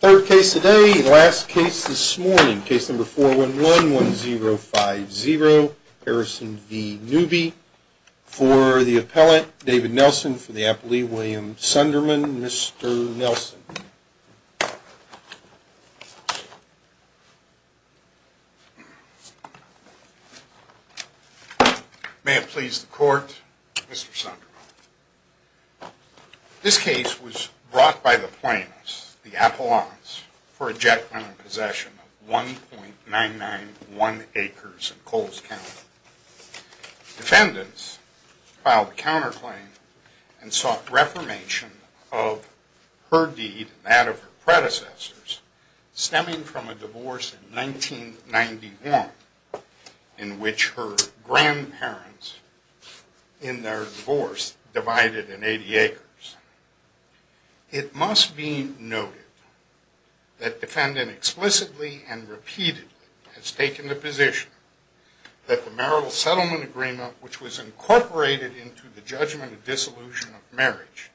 Third case today, last case this morning, case number 4111050, Harrison v. Newby, for the appellate, David Nelson, for the appellee, William Sunderman, Mr. Nelson. May it please the court, Mr. Sunderman. This case was brought by the plaintiffs, the appellants, for ejection and possession of 1.991 acres in Coles County. Defendants filed a counterclaim and sought reformation of her deed and that of her predecessors stemming from a divorce in 1991 in which her grandparents, in their divorce, divided in 80 acres. It must be noted that defendant explicitly and repeatedly has taken the position that the marital settlement agreement which was incorporated into the judgment of dissolution of marriage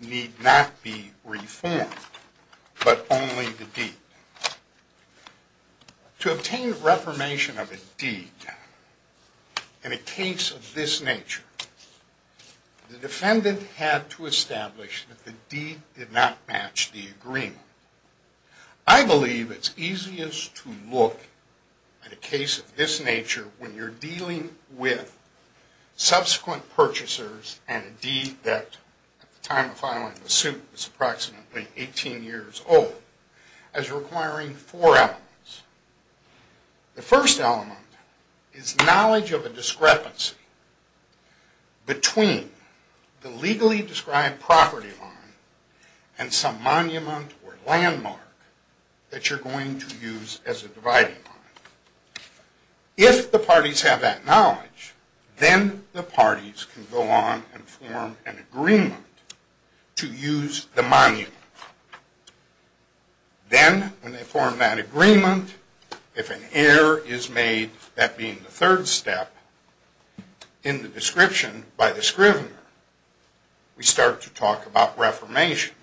need not be reformed, but only the deed. To obtain reformation of a deed in a case of this nature, the defendant had to establish that the deed did not match the agreement. I believe it's easiest to look at a case of this nature when you're dealing with subsequent purchasers and a deed that, at the time of filing the suit, is approximately 18 years old, as requiring four elements. The first element is knowledge of a discrepancy between the legally described property line and some monument or landmark that you're going to use as a dividing line. If the parties have that knowledge, then the parties can go on and form an agreement to use the monument. Then, when they form that agreement, if an error is made, that being the third step, in the description by the scrivener, we start to talk about reformation.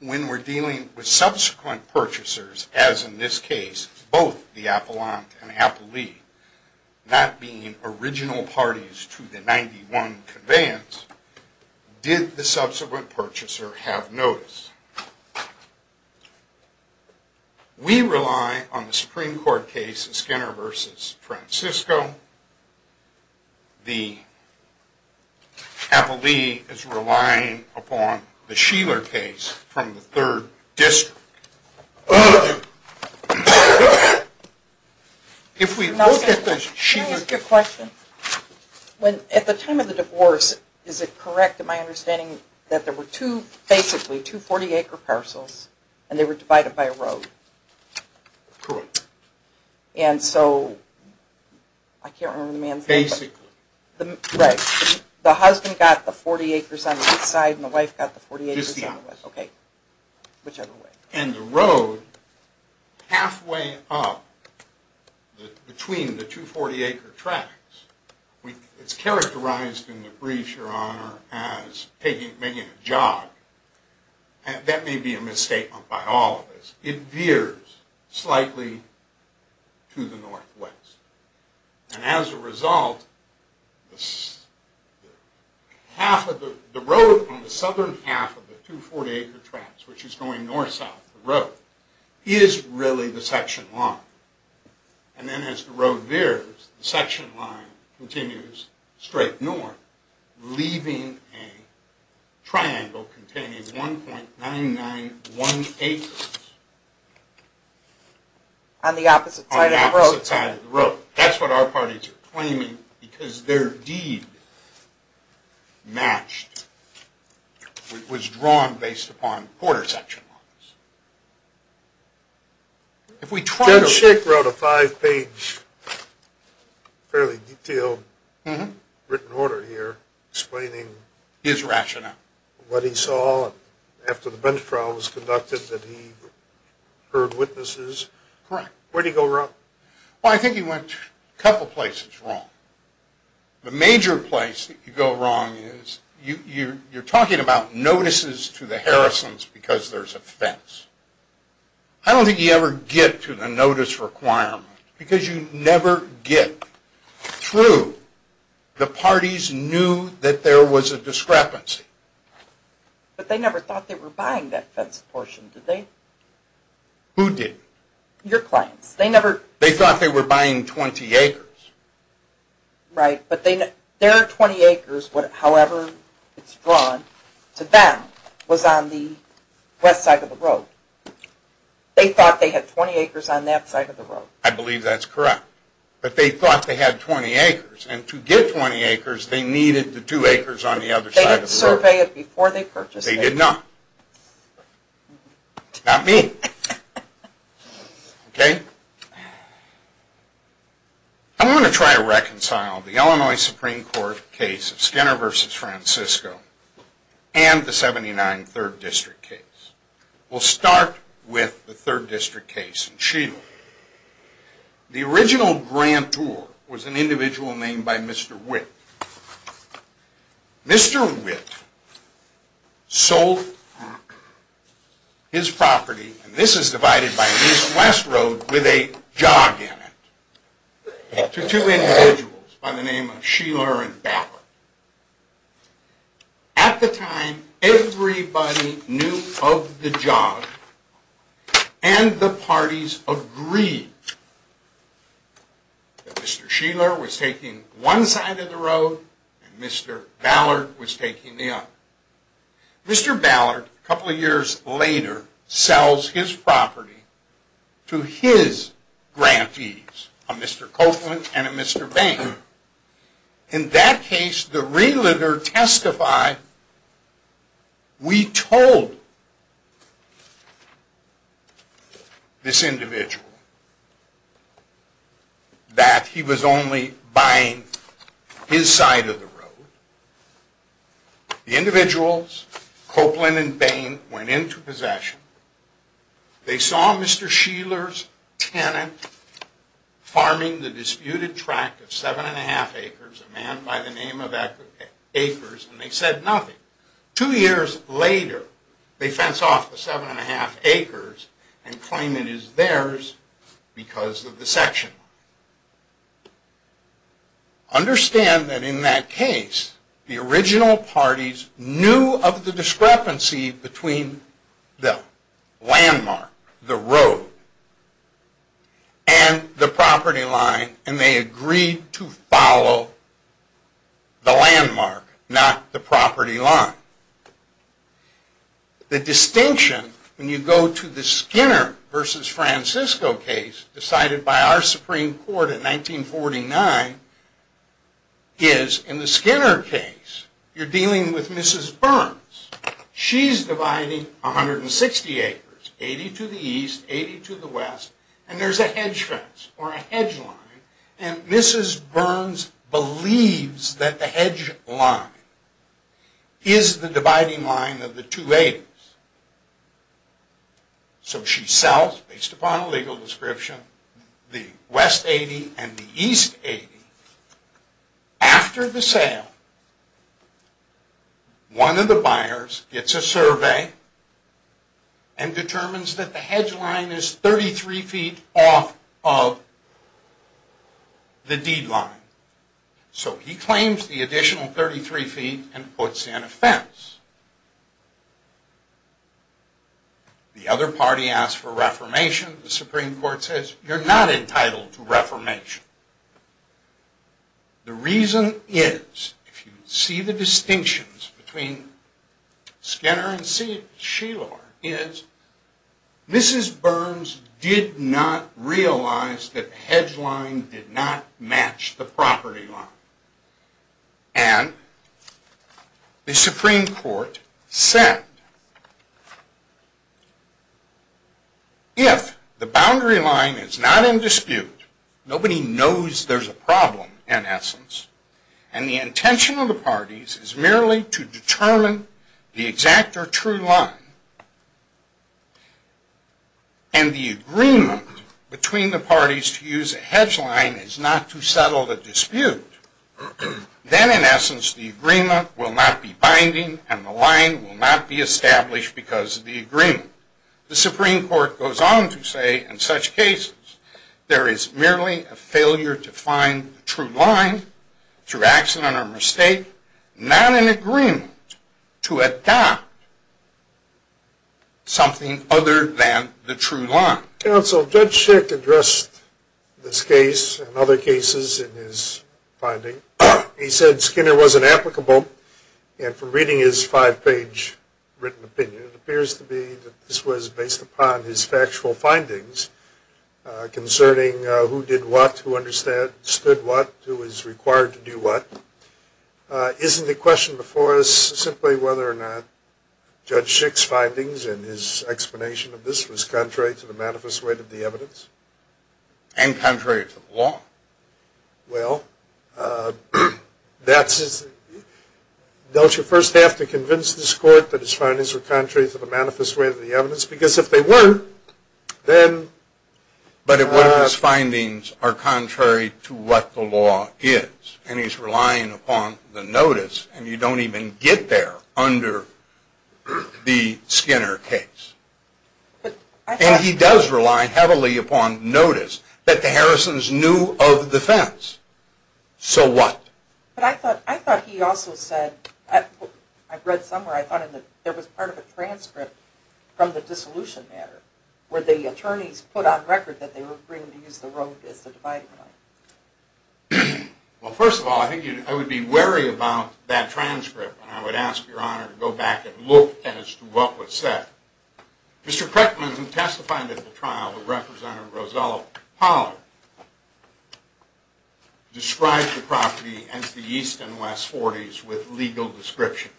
When we're dealing with subsequent purchasers, as in this case, both the appellant and appellee, that being original parties to the 91 conveyance, did the subsequent purchaser have notice? We rely on the Supreme Court case Skinner v. Francisco. The appellee is relying upon the Sheeler case from the 3rd District. Can I ask you a question? At the time of the divorce, is it correct in my understanding that there were basically two 40-acre parcels and they were divided by a road? Correct. And so, I can't remember the man's name. Basically. Right. The husband got the 40 acres on each side and the wife got the 40 acres on the west. Just the opposite. Okay. Whichever way. And the road halfway up between the two 40-acre tracks, it's characterized in the brief, Your Honor, as making a jog. That may be a misstatement by all of us. It veers slightly to the northwest. And as a result, the road on the southern half of the two 40-acre tracks, which is going north-south of the road, is really the section line. And then as the road veers, the section line continues straight north, leaving a triangle containing 1.991 acres. On the opposite side of the road. On the opposite side of the road. That's what our parties are claiming because their deed matched, was drawn based upon quarter section lines. Judge Schick wrote a five-page, fairly detailed written order here explaining what he saw after the bench trial was conducted, that he heard witnesses. Correct. Where did he go wrong? Well, I think he went a couple places wrong. The major place that you go wrong is you're talking about notices to the Harrisons because there's a fence. I don't think you ever get to the notice requirement because you never get through. The parties knew that there was a discrepancy. But they never thought they were buying that fence portion, did they? Who did? Your clients. They thought they were buying 20 acres. Right, but their 20 acres, however it's drawn, to them was on the west side of the road. They thought they had 20 acres on that side of the road. I believe that's correct. But they thought they had 20 acres, and to get 20 acres, they needed the 2 acres on the other side of the road. They didn't survey it before they purchased it. They did not. Not me. Okay. I'm going to try to reconcile the Illinois Supreme Court case of Skinner v. Francisco and the 79 Third District case. We'll start with the Third District case in Sheeville. The original grantor was an individual named by Mr. Witt. Mr. Witt sold his property, and this is divided by East and West Road with a jog in it, to two individuals by the name of Sheeler and Bapper. At the time, everybody knew of the jog, and the parties agreed that Mr. Sheeler was taking one side of the road, and Mr. Ballard was taking the other. Mr. Ballard, a couple of years later, sells his property to his grantees, a Mr. Copeland and a Mr. Bain. In that case, the realtor testified, we told this individual that he was only buying his side of the road. The individuals, Copeland and Bain, went into possession. They saw Mr. Sheeler's tenant farming the disputed tract of 7 1⁄2 acres, a man by the name of Akers, and they said nothing. Two years later, they fence off the 7 1⁄2 acres and claim it is theirs because of the section line. Understand that in that case, the original parties knew of the discrepancy between the landmark, the road, and the property line, and they agreed to follow the landmark, not the property line. The distinction, when you go to the Skinner v. Francisco case, decided by our Supreme Court in 1949, is in the Skinner case, you're dealing with Mrs. Burns. She's dividing 160 acres, 80 to the east, 80 to the west, and there's a hedge fence, or a hedge line, and Mrs. Burns believes that the hedge line is the dividing line of the two 80s. So she sells, based upon a legal description, the west 80 and the east 80. After the sale, one of the buyers gets a survey and determines that the hedge line is 33 feet off of the deed line. So he claims the additional 33 feet and puts in a fence. The other party asks for reformation. The Supreme Court says, you're not entitled to reformation. The reason is, if you see the distinctions between Skinner and Sheilor, is Mrs. Burns did not realize that the hedge line did not match the property line. And the Supreme Court said, if the boundary line is not in dispute, nobody knows there's a problem, in essence, and the intention of the parties is merely to determine the exact or true line, and the agreement between the parties to use a hedge line is not to settle the dispute, then, in essence, the agreement will not be binding and the line will not be established because of the agreement. The Supreme Court goes on to say, in such cases, there is merely a failure to find a true line, through accident or mistake, not an agreement to adopt something other than the true line. Counsel, Judge Schick addressed this case and other cases in his finding. He said Skinner was inapplicable, and from reading his five-page written opinion, it appears to be that this was based upon his factual findings concerning who did what, who understood what, who was required to do what. Isn't the question before us simply whether or not Judge Schick's findings and his explanation of this was contrary to the manifest weight of the evidence? Well, don't you first have to convince this court that his findings were contrary to the manifest weight of the evidence? Because if they weren't, then... But if one of his findings are contrary to what the law is, and he's relying upon the notice, and you don't even get there under the Skinner case. And he does rely heavily upon notice that the Harrisons knew of the fence. So what? But I thought he also said, I've read somewhere, I thought there was part of a transcript from the dissolution matter, where the attorneys put on record that they were agreeing to use the rope as the dividing line. Well, first of all, I think I would be wary about that transcript, and I would ask Your Honor to go back and look as to what was said. Mr. Kreckman, in testifying at the trial of Representative Rosella Pollard, described the property as the East and West Forties with legal description.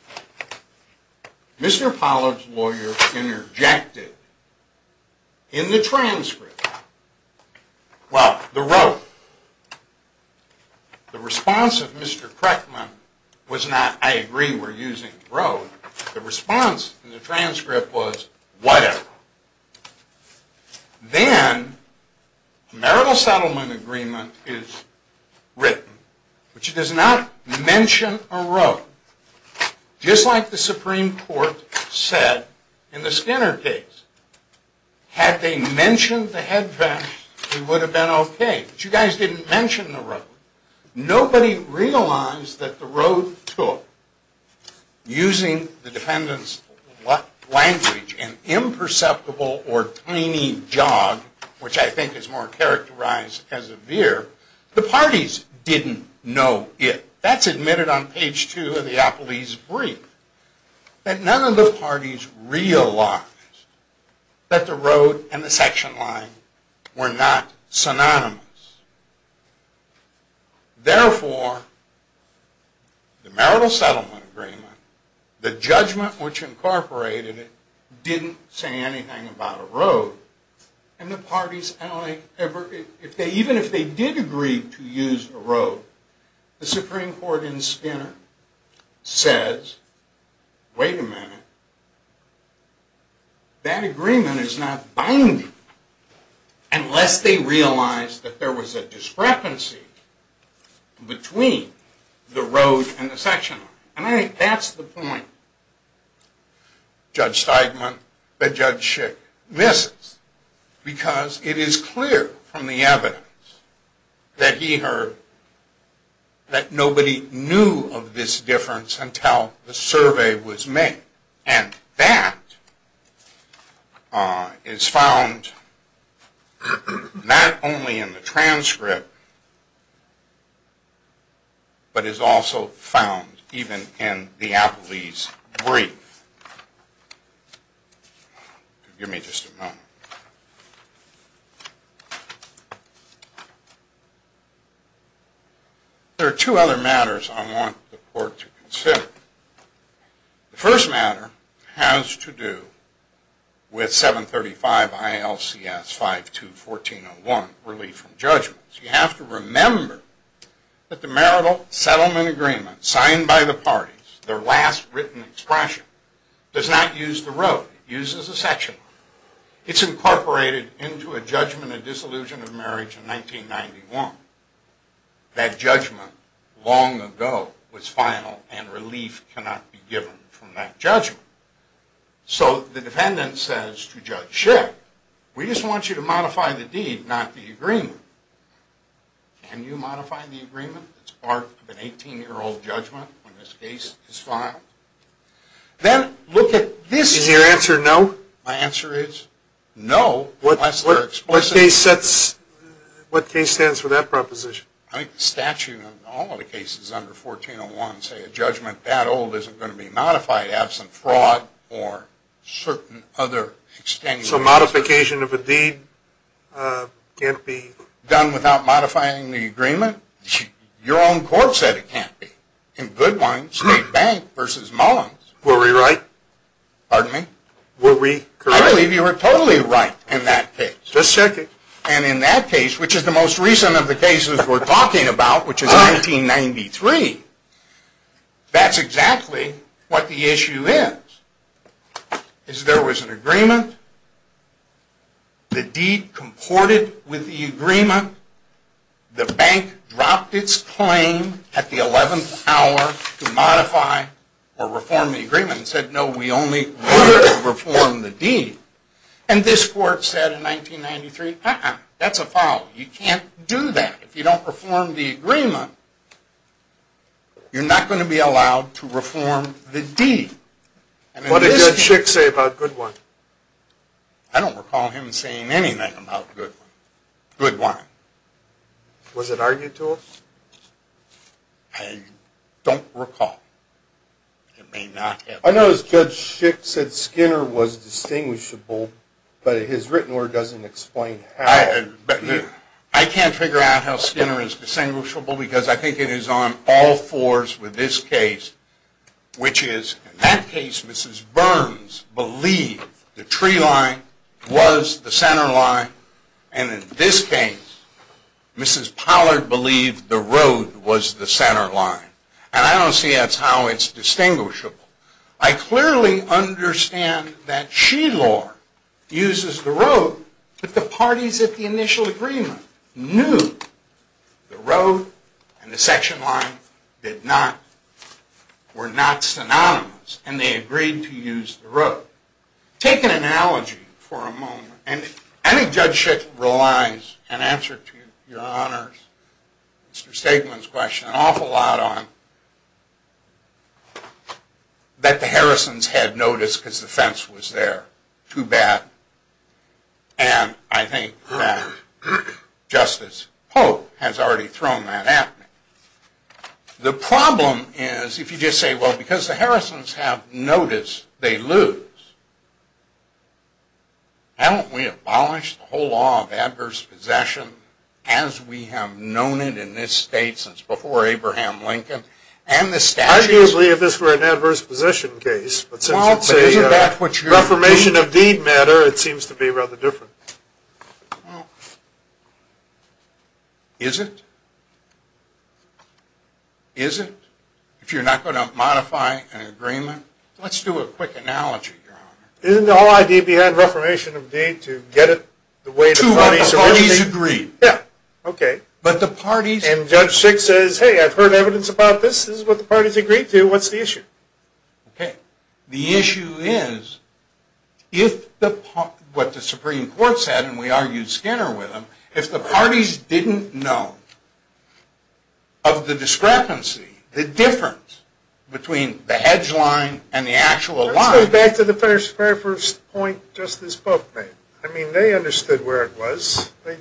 Mr. Pollard's lawyer interjected in the transcript, well, the rope. The response of Mr. Kreckman was not, I agree, we're using rope. The response in the transcript was, whatever. Then, the marital settlement agreement is written, which does not mention a rope. Just like the Supreme Court said in the Skinner case. Had they mentioned the head fence, it would have been okay. But you guys didn't mention the rope. Nobody realized that the rope took, using the defendant's language, an imperceptible or tiny jog, which I think is more characterized as a veer. The parties didn't know it. That's admitted on page two of the Apolese brief. But none of the parties realized that the rope and the section line were not synonymous. Therefore, the marital settlement agreement, the judgment which incorporated it, didn't say anything about a rope. And the parties, even if they did agree to use a rope, the Supreme Court in Skinner says, wait a minute, that agreement is not binding unless they realize that there was a discrepancy between the rope and the section line. And I think that's the point Judge Steigman and Judge Schick missed. Because it is clear from the evidence that he heard that nobody knew of this difference until the survey was made. And that is found not only in the transcript, but is also found even in the Apolese brief. Give me just a moment. There are two other matters I want the court to consider. The first matter has to do with 735 ILCS 5214-01, Relief from Judgments. You have to remember that the marital settlement agreement signed by the parties, their last written expression, does not use the rope. It uses a section line. It's incorporated into a judgment of disillusion of marriage in 1991. That judgment long ago was final, and relief cannot be given from that judgment. So the defendant says to Judge Schick, we just want you to modify the deed, not the agreement. Can you modify the agreement? It's part of an 18-year-old judgment when this case is filed. Then look at this. Is your answer no? My answer is no, unless they're explicit. What case stands for that proposition? I think the statute of all the cases under 1401 say a judgment that old isn't going to be modified absent fraud or certain other extenuating circumstances. So modification of a deed can't be? Done without modifying the agreement? Your own court said it can't be. In Goodwine, State Bank v. Mullins. Were we right? Pardon me? Were we correct? I believe you were totally right in that case. Just a second. And in that case, which is the most recent of the cases we're talking about, which is 1993, that's exactly what the issue is. There was an agreement. The deed comported with the agreement. The bank dropped its claim at the 11th hour to modify or reform the agreement and said, no, we only want to reform the deed. And this court said in 1993, uh-uh, that's a foul. You can't do that. If you don't reform the agreement, you're not going to be allowed to reform the deed. What did Judge Schick say about Goodwine? I don't recall him saying anything about Goodwine. Was it argued to him? I don't recall. I noticed Judge Schick said Skinner was distinguishable, but his written word doesn't explain how. I can't figure out how Skinner is distinguishable because I think it is on all fours with this case, which is, in that case, Mrs. Burns believed the tree line was the center line, and in this case, Mrs. Pollard believed the road was the center line. And I don't see that's how it's distinguishable. I clearly understand that Sheilor uses the road, but the parties at the initial agreement knew the road and the section line did not, were not synonymous, and they agreed to use the road. Take an analogy for a moment. And I think Judge Schick relies, in answer to Your Honors, Mr. Stegman's question, an awful lot on that the Harrisons had noticed because the fence was there. Too bad. And I think that Justice Pope has already thrown that at me. The problem is, if you just say, well, because the Harrisons have noticed, they lose. Why don't we abolish the whole law of adverse possession, as we have known it in this state since before Abraham Lincoln and the statutes? Arguably, if this were an adverse possession case, but since it's a Reformation of Deed matter, it seems to be rather different. Is it? Is it? If you're not going to modify an agreement? Let's do a quick analogy, Your Honor. Isn't the whole idea behind Reformation of Deed to get it the way the parties agreed? Yeah. Okay. But the parties... And Judge Schick says, hey, I've heard evidence about this. This is what the parties agreed to. What's the issue? Okay. The issue is, what the Supreme Court said, and we argued Skinner with him, if the parties didn't know of the discrepancy, the difference between the hedge line and the actual line... Let's go back to the very first point Justice Pope made. I mean, they understood where it was. Then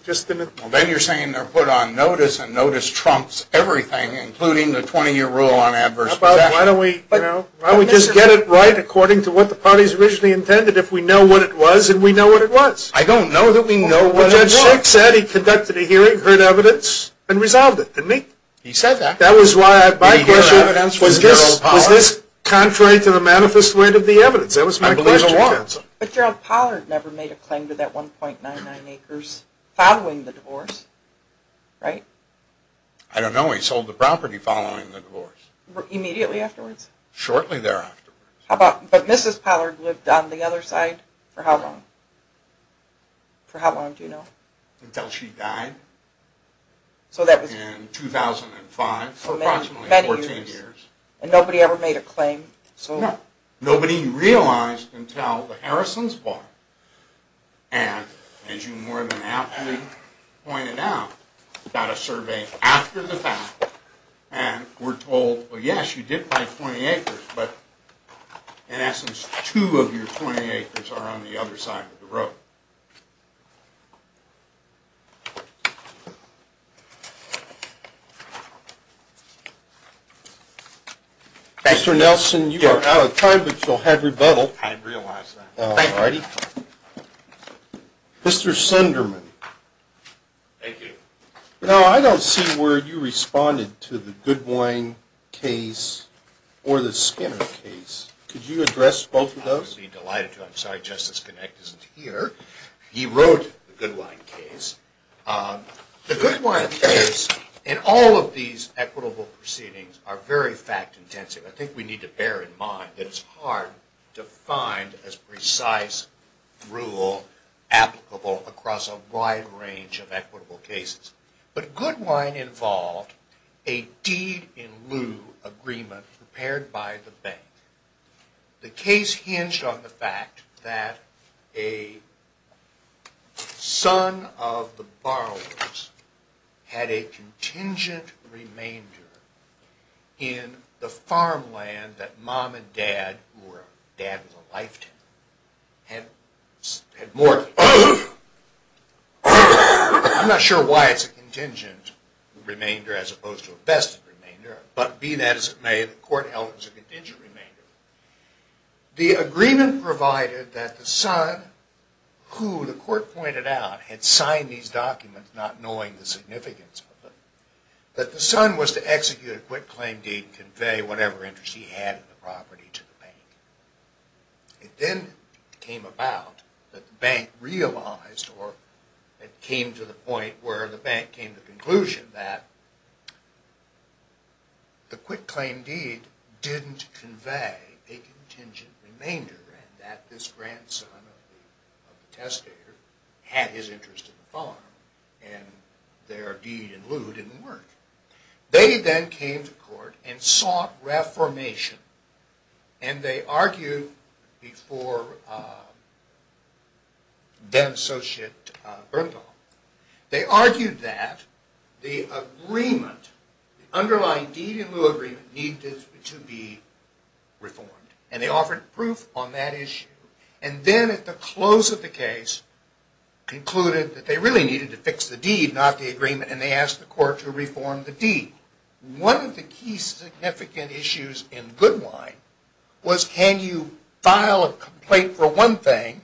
you're saying they're put on notice, and notice trumps everything, including the 20-year rule on adverse possession. Why don't we just get it right according to what the parties originally intended, if we know what it was and we know what it was? I don't know that we know what it was. But Judge Schick said he conducted a hearing, heard evidence, and resolved it, didn't he? He said that. That was why my question was, was this contrary to the manifest weight of the evidence? That was my question. But Gerald Pollard never made a claim to that 1.99 acres following the divorce, right? I don't know. He sold the property following the divorce. Immediately afterwards? Shortly thereafter. But Mrs. Pollard lived on the other side for how long? For how long do you know? Until she died in 2005, for approximately 14 years. And nobody ever made a claim? No. Nobody realized until the Harrisons bought it. And, as you more than aptly pointed out, got a survey after the fact, and were told, well, yes, you did buy 20 acres, but in essence two of your 20 acres are on the other side of the road. Mr. Nelson, you are out of time, but you'll have rebuttal. I realize that. Thank you. Mr. Sunderman. Thank you. Now, I don't see where you responded to the Goodwine case or the Skinner case. Could you address both of those? I would be delighted to. I'm sorry, Justice Kinect isn't here. He wrote the Goodwine case. The Goodwine case and all of these equitable proceedings are very fact-intensive. I think we need to bear in mind that it's hard to find as precise rule applicable across a wide range of equitable cases. But Goodwine involved a deed-in-lieu agreement prepared by the bank. The case hinged on the fact that a son of the borrowers had a contingent remainder in the farmland that mom and dad, who dad was a lifetime, had mortgaged. I'm not sure why it's a contingent remainder as opposed to a vested remainder, but be that as it may, the court held it as a contingent remainder. The agreement provided that the son, who the court pointed out, had signed these documents not knowing the significance of them, that the son was to execute a quit-claim deed and convey whatever interest he had in the property to the bank. It then came about that the bank realized or it came to the point where the conclusion that the quit-claim deed didn't convey a contingent remainder and that this grandson of the testator had his interest in the farm and their deed-in-lieu didn't work. They then came to court and sought reformation and they argued before then-associate Bernthal. They argued that the agreement, the underlying deed-in-lieu agreement needed to be reformed and they offered proof on that issue. And then at the close of the case concluded that they really needed to fix the deed, not the agreement, and they asked the court to reform the deed. One of the key significant issues in Goodwine was can you file a complaint for one thing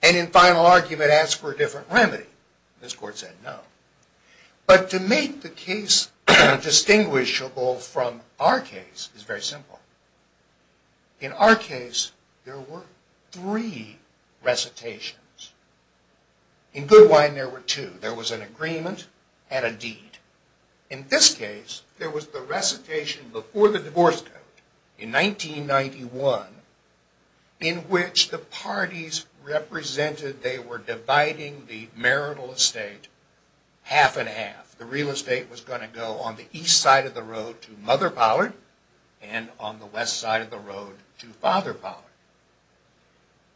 and in final argument ask for a different remedy? This court said no. But to make the case distinguishable from our case is very simple. In our case there were three recitations. In Goodwine there were two. There was an agreement and a deed. In this case there was the recitation before the divorce code in 1991 in which the parties represented they were dividing the marital estate half and half. The real estate was going to go on the east side of the road to Mother Pollard and on the west side of the road to Father Pollard.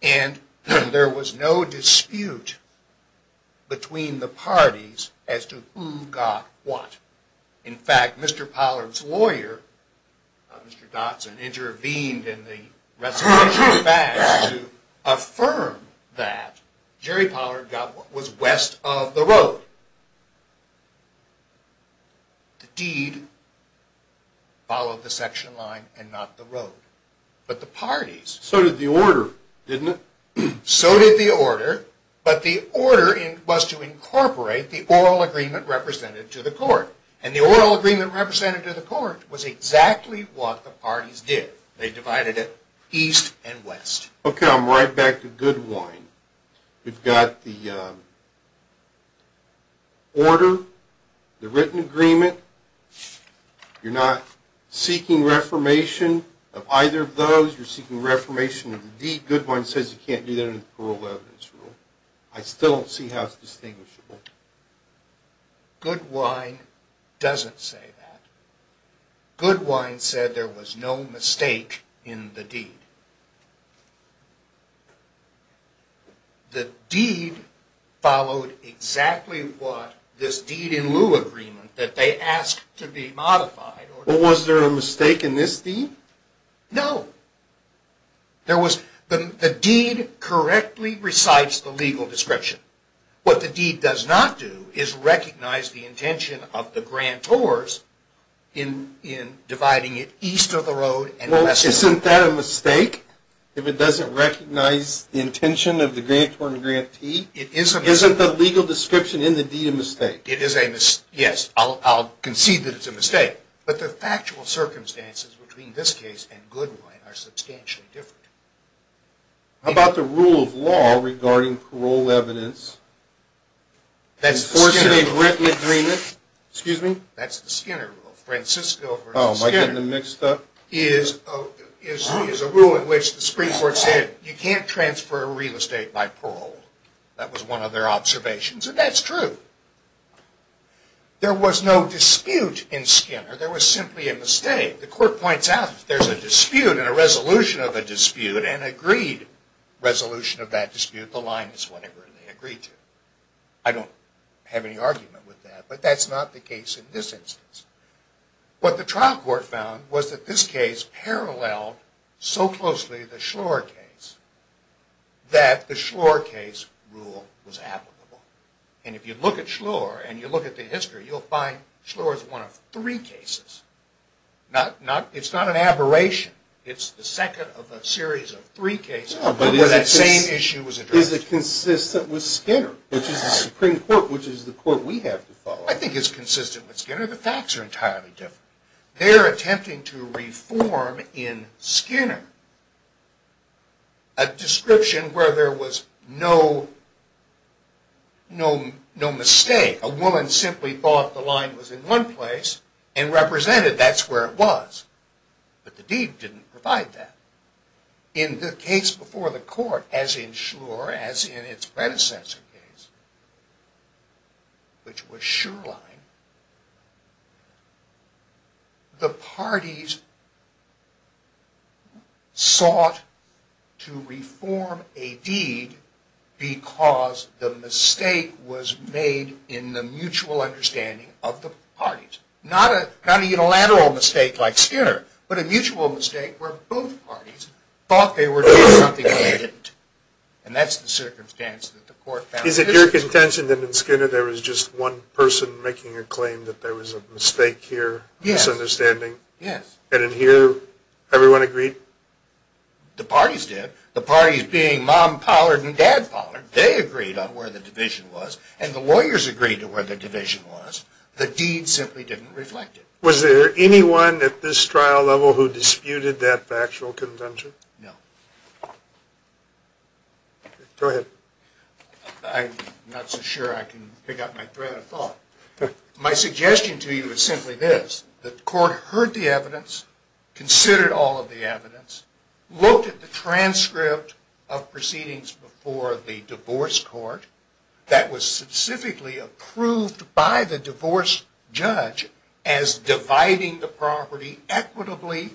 And there was no dispute between the parties as to who got what. In fact, Mr. Pollard's lawyer, Mr. Dotson, intervened in the recitation to affirm that Jerry Pollard got what was west of the road. The deed followed the section line and not the road. So did the order, didn't it? So did the order, but the order was to incorporate the oral agreement represented to the court. And the oral agreement represented to the court was exactly what the parties did. They divided it east and west. Okay, I'm right back to Goodwine. We've got the order, the written agreement. You're not seeking reformation of either of those. You're seeking reformation of the deed. Goodwine says you can't do that in the Parole Evidence Rule. I still don't see how it's distinguishable. Goodwine doesn't say that. Goodwine said there was no mistake in the deed. The deed followed exactly what this deed in lieu agreement that they asked to be modified. But was there a mistake in this deed? No. The deed correctly recites the legal description. What the deed does not do is recognize the intention of the grantors in dividing it east of the road and west of the road. Well, isn't that a mistake if it doesn't recognize the intention of the grantor and grantee? It is a mistake. Isn't the legal description in the deed a mistake? But the factual circumstances between this case and Goodwine are substantially different. How about the rule of law regarding parole evidence? Enforcing a written agreement? Excuse me? That's the Skinner Rule. Francisco versus Skinner is a rule in which the Supreme Court said you can't transfer real estate by parole. That was one of their observations, and that's true. There was no dispute in Skinner. There was simply a mistake. The court points out if there's a dispute and a resolution of a dispute and an agreed resolution of that dispute, the line is whatever they agreed to. I don't have any argument with that, but that's not the case in this instance. What the trial court found was that this case paralleled so closely the Schlore case that the Schlore case rule was applicable. And if you look at Schlore and you look at the history, you'll find Schlore is one of three cases. It's not an aberration. It's the second of a series of three cases where that same issue was addressed. Is it consistent with Skinner, which is the Supreme Court, which is the court we have to follow? I think it's consistent with Skinner. The facts are entirely different. They're attempting to reform in Skinner a description where there was no mistake. A woman simply thought the line was in one place and represented that's where it was. But the deed didn't provide that. In the case before the court, as in Schlore, as in its predecessor case, which was Shurline, the parties sought to reform a deed because the mistake was made in the mutual understanding of the parties. Not a unilateral mistake like Skinner, but a mutual mistake where both parties thought they were doing something they didn't. And that's the circumstance that the court found consistent. Is it your contention that in Skinner there was just one person making a claim that there was a mistake here? Yes. Misunderstanding? Yes. And in here, everyone agreed? The parties did. The parties being mom Pollard and dad Pollard, they agreed on where the division was. And the lawyers agreed on where the division was. The deed simply didn't reflect it. Was there anyone at this trial level who disputed that factual contention? No. Go ahead. I'm not so sure I can pick up my thread of thought. My suggestion to you is simply this. The court heard the evidence, considered all of the evidence, looked at the transcript of proceedings before the divorce court that was specifically approved by the divorce judge as dividing the property equitably,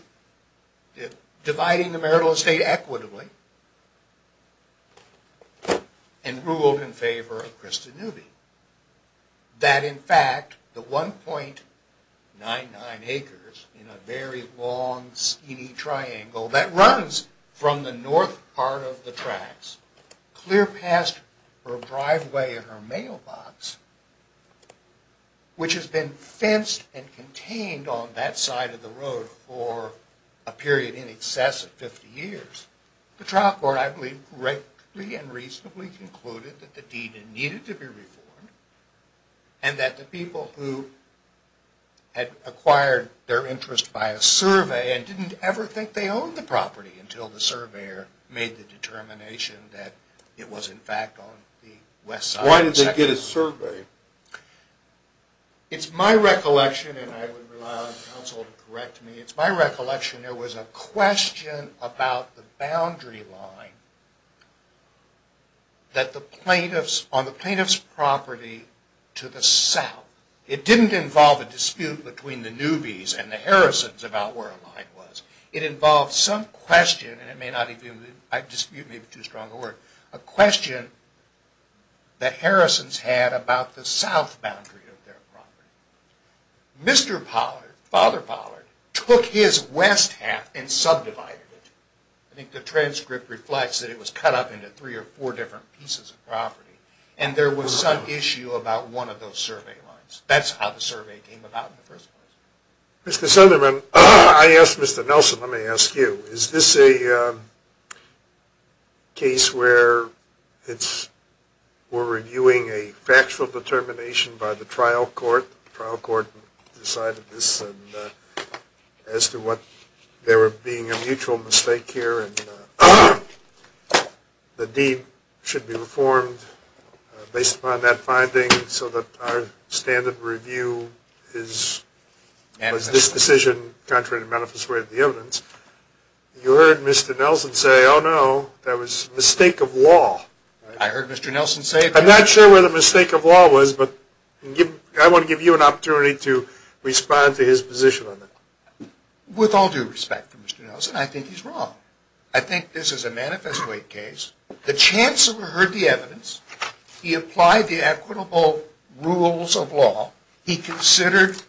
dividing the marital estate equitably, and ruled in favor of Christa Newby. That in fact, the 1.99 acres in a very long, skinny triangle that runs from the north part of the tracks, clear past her driveway and her mailbox, which has been fenced and contained on that side of the road for a period in excess of 50 years. The trial court, I believe, correctly and reasonably concluded that the deed needed to be reformed and that the people who had acquired their interest by a survey and didn't ever think they owned the property until the surveyor made the determination that it was in fact on the west side. Why did they get a survey? It's my recollection, and I would rely on counsel to correct me, it's my recollection there was a question about the boundary line on the plaintiff's property to the south. It didn't involve a dispute between the Newbys and the Harrisons about where a line was. It involved some question, and I dispute maybe too strong a word, a question the Harrisons had about the south boundary of their property. Mr. Pollard, Father Pollard, took his west half and subdivided it. I think the transcript reflects that it was cut up into three or four different pieces of property, and there was some issue about one of those survey lines. That's how the survey came about in the first place. Mr. Sunderman, I asked Mr. Nelson, let me ask you, is this a case where we're reviewing a factual determination by the trial court? The trial court decided this as to what there being a mutual mistake here, and the deed should be reformed based upon that finding so that our standard review is this decision contrary to manifest way of the evidence. You heard Mr. Nelson say, oh no, that was a mistake of law. I heard Mr. Nelson say that. I'm not sure where the mistake of law was, but I want to give you an opportunity to respond to his position on that. With all due respect to Mr. Nelson, I think he's wrong. I think this is a manifest way case. The chancellor heard the evidence. He applied the equitable rules of law. He considered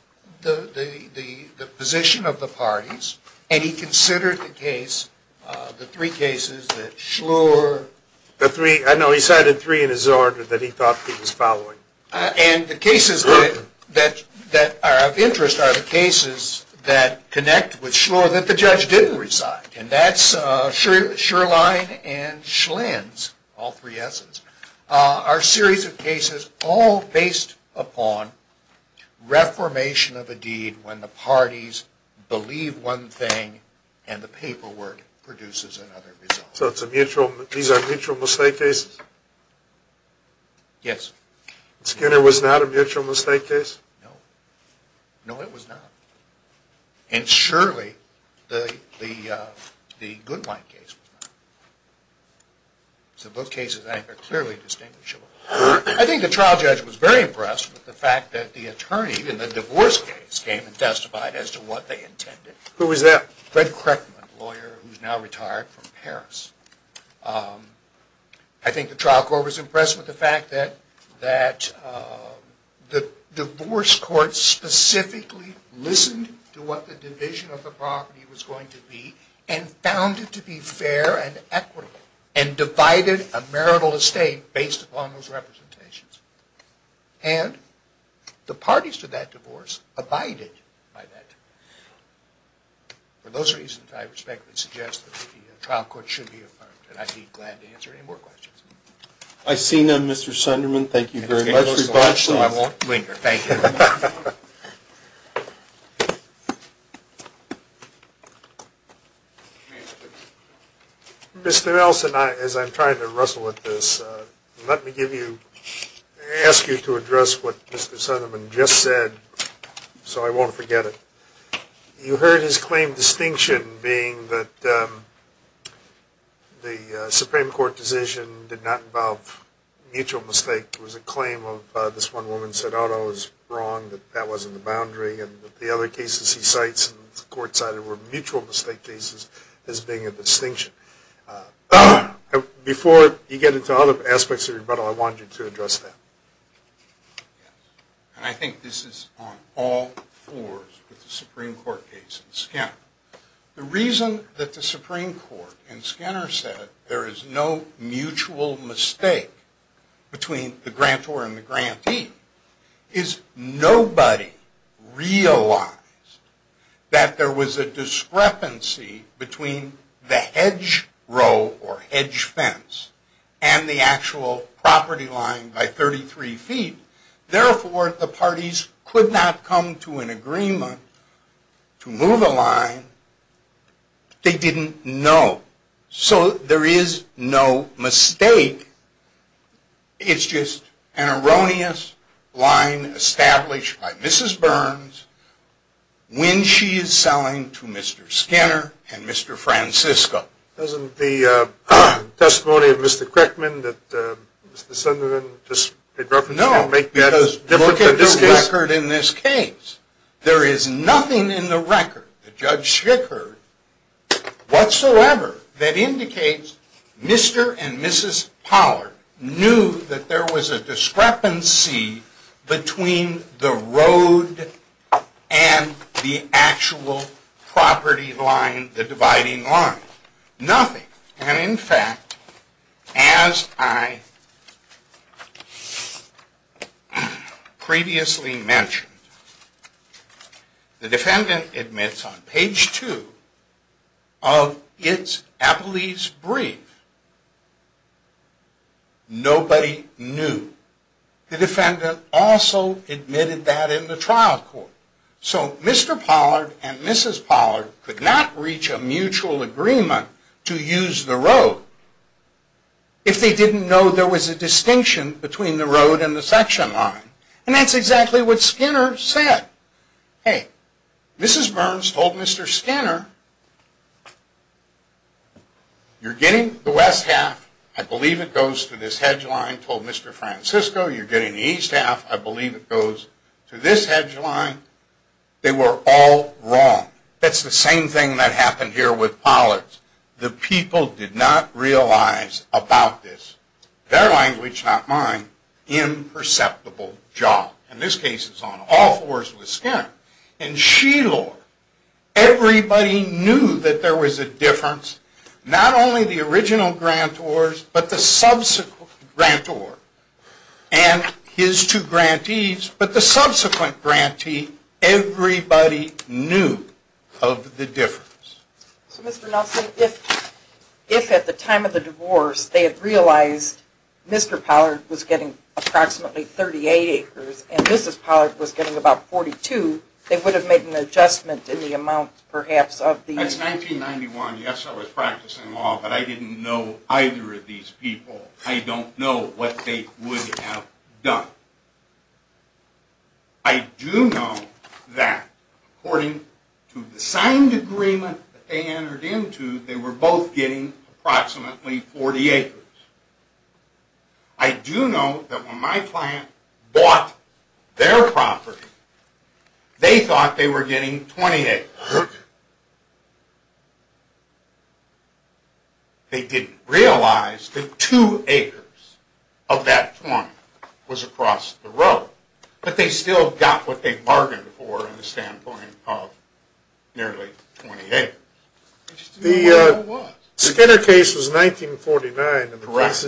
the position of the parties, and he considered the case, the three cases, the Schlur. I know he cited three in his order that he thought he was following. And the cases that are of interest are the cases that connect with Schlur that the judge didn't recite. And that's Shirline and Schlin's, all three S's, are a series of cases all based upon reformation of a deed when the parties believe one thing and the paperwork produces another result. So these are mutual mistake cases? Yes. Skinner was not a mutual mistake case? No. No, it was not. And surely the Goodwine case was not. So both cases, I think, are clearly distinguishable. I think the trial judge was very impressed with the fact that the attorney in the divorce case came and testified as to what they intended. Who was that? Fred Kreckman, a lawyer who's now retired from Paris. I think the trial court was impressed with the fact that the divorce court specifically listened to what the division of the property was going to be and found it to be fair and equitable and divided a marital estate based upon those representations. And the parties to that divorce abided by that. For those reasons, I respectfully suggest that the trial court should be affirmed. And I'd be glad to answer any more questions. I see none, Mr. Sunderman. Thank you very much. I won't. Thank you. Mr. Nelson, as I'm trying to wrestle with this, let me give you, ask you to address what Mr. Sunderman just said so I won't forget it. You heard his claim distinction being that the Supreme Court decision did not involve mutual mistake. It was a claim of this one woman said, oh, no, it was right. It was wrong. That wasn't the boundary. And the other cases he cites and the court cited were mutual mistake cases as being a distinction. Before you get into other aspects of rebuttal, I want you to address that. I think this is on all floors with the Supreme Court case and Skinner. The reason that the Supreme Court and Skinner said there is no mutual mistake between the grantor and the grantee is nobody realized that there was a discrepancy between the hedge row or hedge fence and the actual property line by 33 feet. Therefore, the parties could not come to an agreement to move a line. They didn't know. So there is no mistake. It's just an erroneous line established by Mrs. Burns when she is selling to Mr. Skinner and Mr. Francisco. Doesn't the testimony of Mr. Crickman that Mr. Sunderland just referenced make that different than this case? No, because look at the record in this case. There is nothing in the record that Judge Schick heard whatsoever that indicates Mr. and Mrs. Pollard knew that there was a discrepancy between the road and the actual property line, the dividing line. Nothing. And in fact, as I previously mentioned, the defendant admits on page 2 of its appellee's brief, nobody knew. The defendant also admitted that in the trial court. So Mr. Pollard and Mrs. Pollard could not reach a mutual agreement to use the road if they didn't know there was a distinction between the road and the section line. And that's exactly what Skinner said. Hey, Mrs. Burns told Mr. Skinner, you're getting the west half. I believe it goes to this hedge line, told Mr. Francisco. You're getting the east half. I believe it goes to this hedge line. They were all wrong. That's the same thing that happened here with Pollard. The people did not realize about this, their language, not mine, imperceptible job. And this case is on all fours with Skinner. And Sheilor, everybody knew that there was a difference. Not only the original grantors, but the subsequent grantor and his two grantees, but the subsequent grantee, everybody knew of the difference. So Mr. Nelson, if at the time of the divorce they had realized Mr. Pollard was getting approximately 38 acres and Mrs. Pollard was getting about 42, they would have made an adjustment in the amount perhaps of the... That's 1991. Yes, I was practicing law, but I didn't know either of these people. I don't know what they would have done. I do know that according to the signed agreement that they entered into, they were both getting approximately 40 acres. I do know that when my client bought their property, they thought they were getting 20 acres. They didn't realize that two acres of that farm was across the road. But they still got what they bargained for in the standpoint of nearly 20 acres. The Skinner case was 1949. Correct.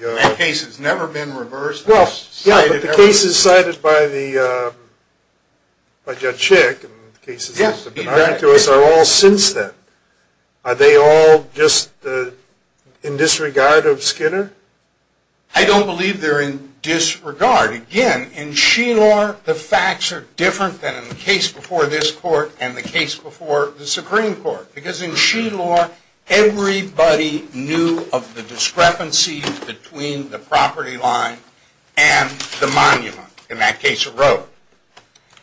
That case has never been reversed. Yeah, but the cases cited by Judge Schick and the cases that have been argued to us are all since then. Are they all just in disregard of Skinner? I don't believe they're in disregard. Again, in Sheilor, the facts are different than in the case before this court and the case before the Supreme Court. Because in Sheilor, everybody knew of the discrepancy between the property line and the monument. In that case, a road.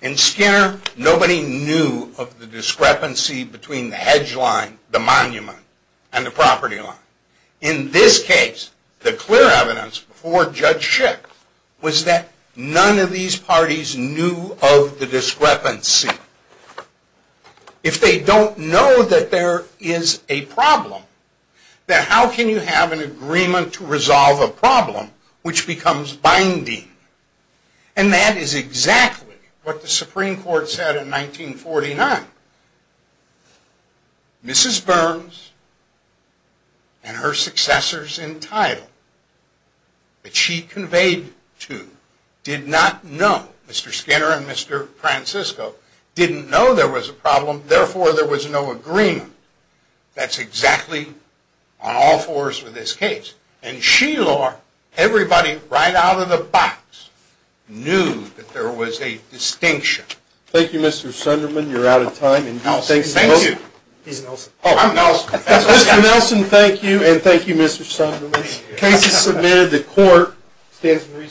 In Skinner, nobody knew of the discrepancy between the hedge line, the monument, and the property line. In this case, the clear evidence before Judge Schick was that none of these parties knew of the discrepancy. If they don't know that there is a problem, then how can you have an agreement to resolve a problem which becomes binding? And that is exactly what the Supreme Court said in 1949. Mrs. Burns and her successors in title that she conveyed to did not know. Mr. Skinner and Mr. Francisco didn't know there was a problem. Therefore, there was no agreement. That's exactly on all fours with this case. In Sheilor, everybody right out of the box knew that there was a distinction. Thank you, Mr. Sunderman. You're out of time. Thank you. He's Nelson. I'm Nelson. Mr. Nelson, thank you, and thank you, Mr. Sunderman. The case is submitted. The court stands in recess.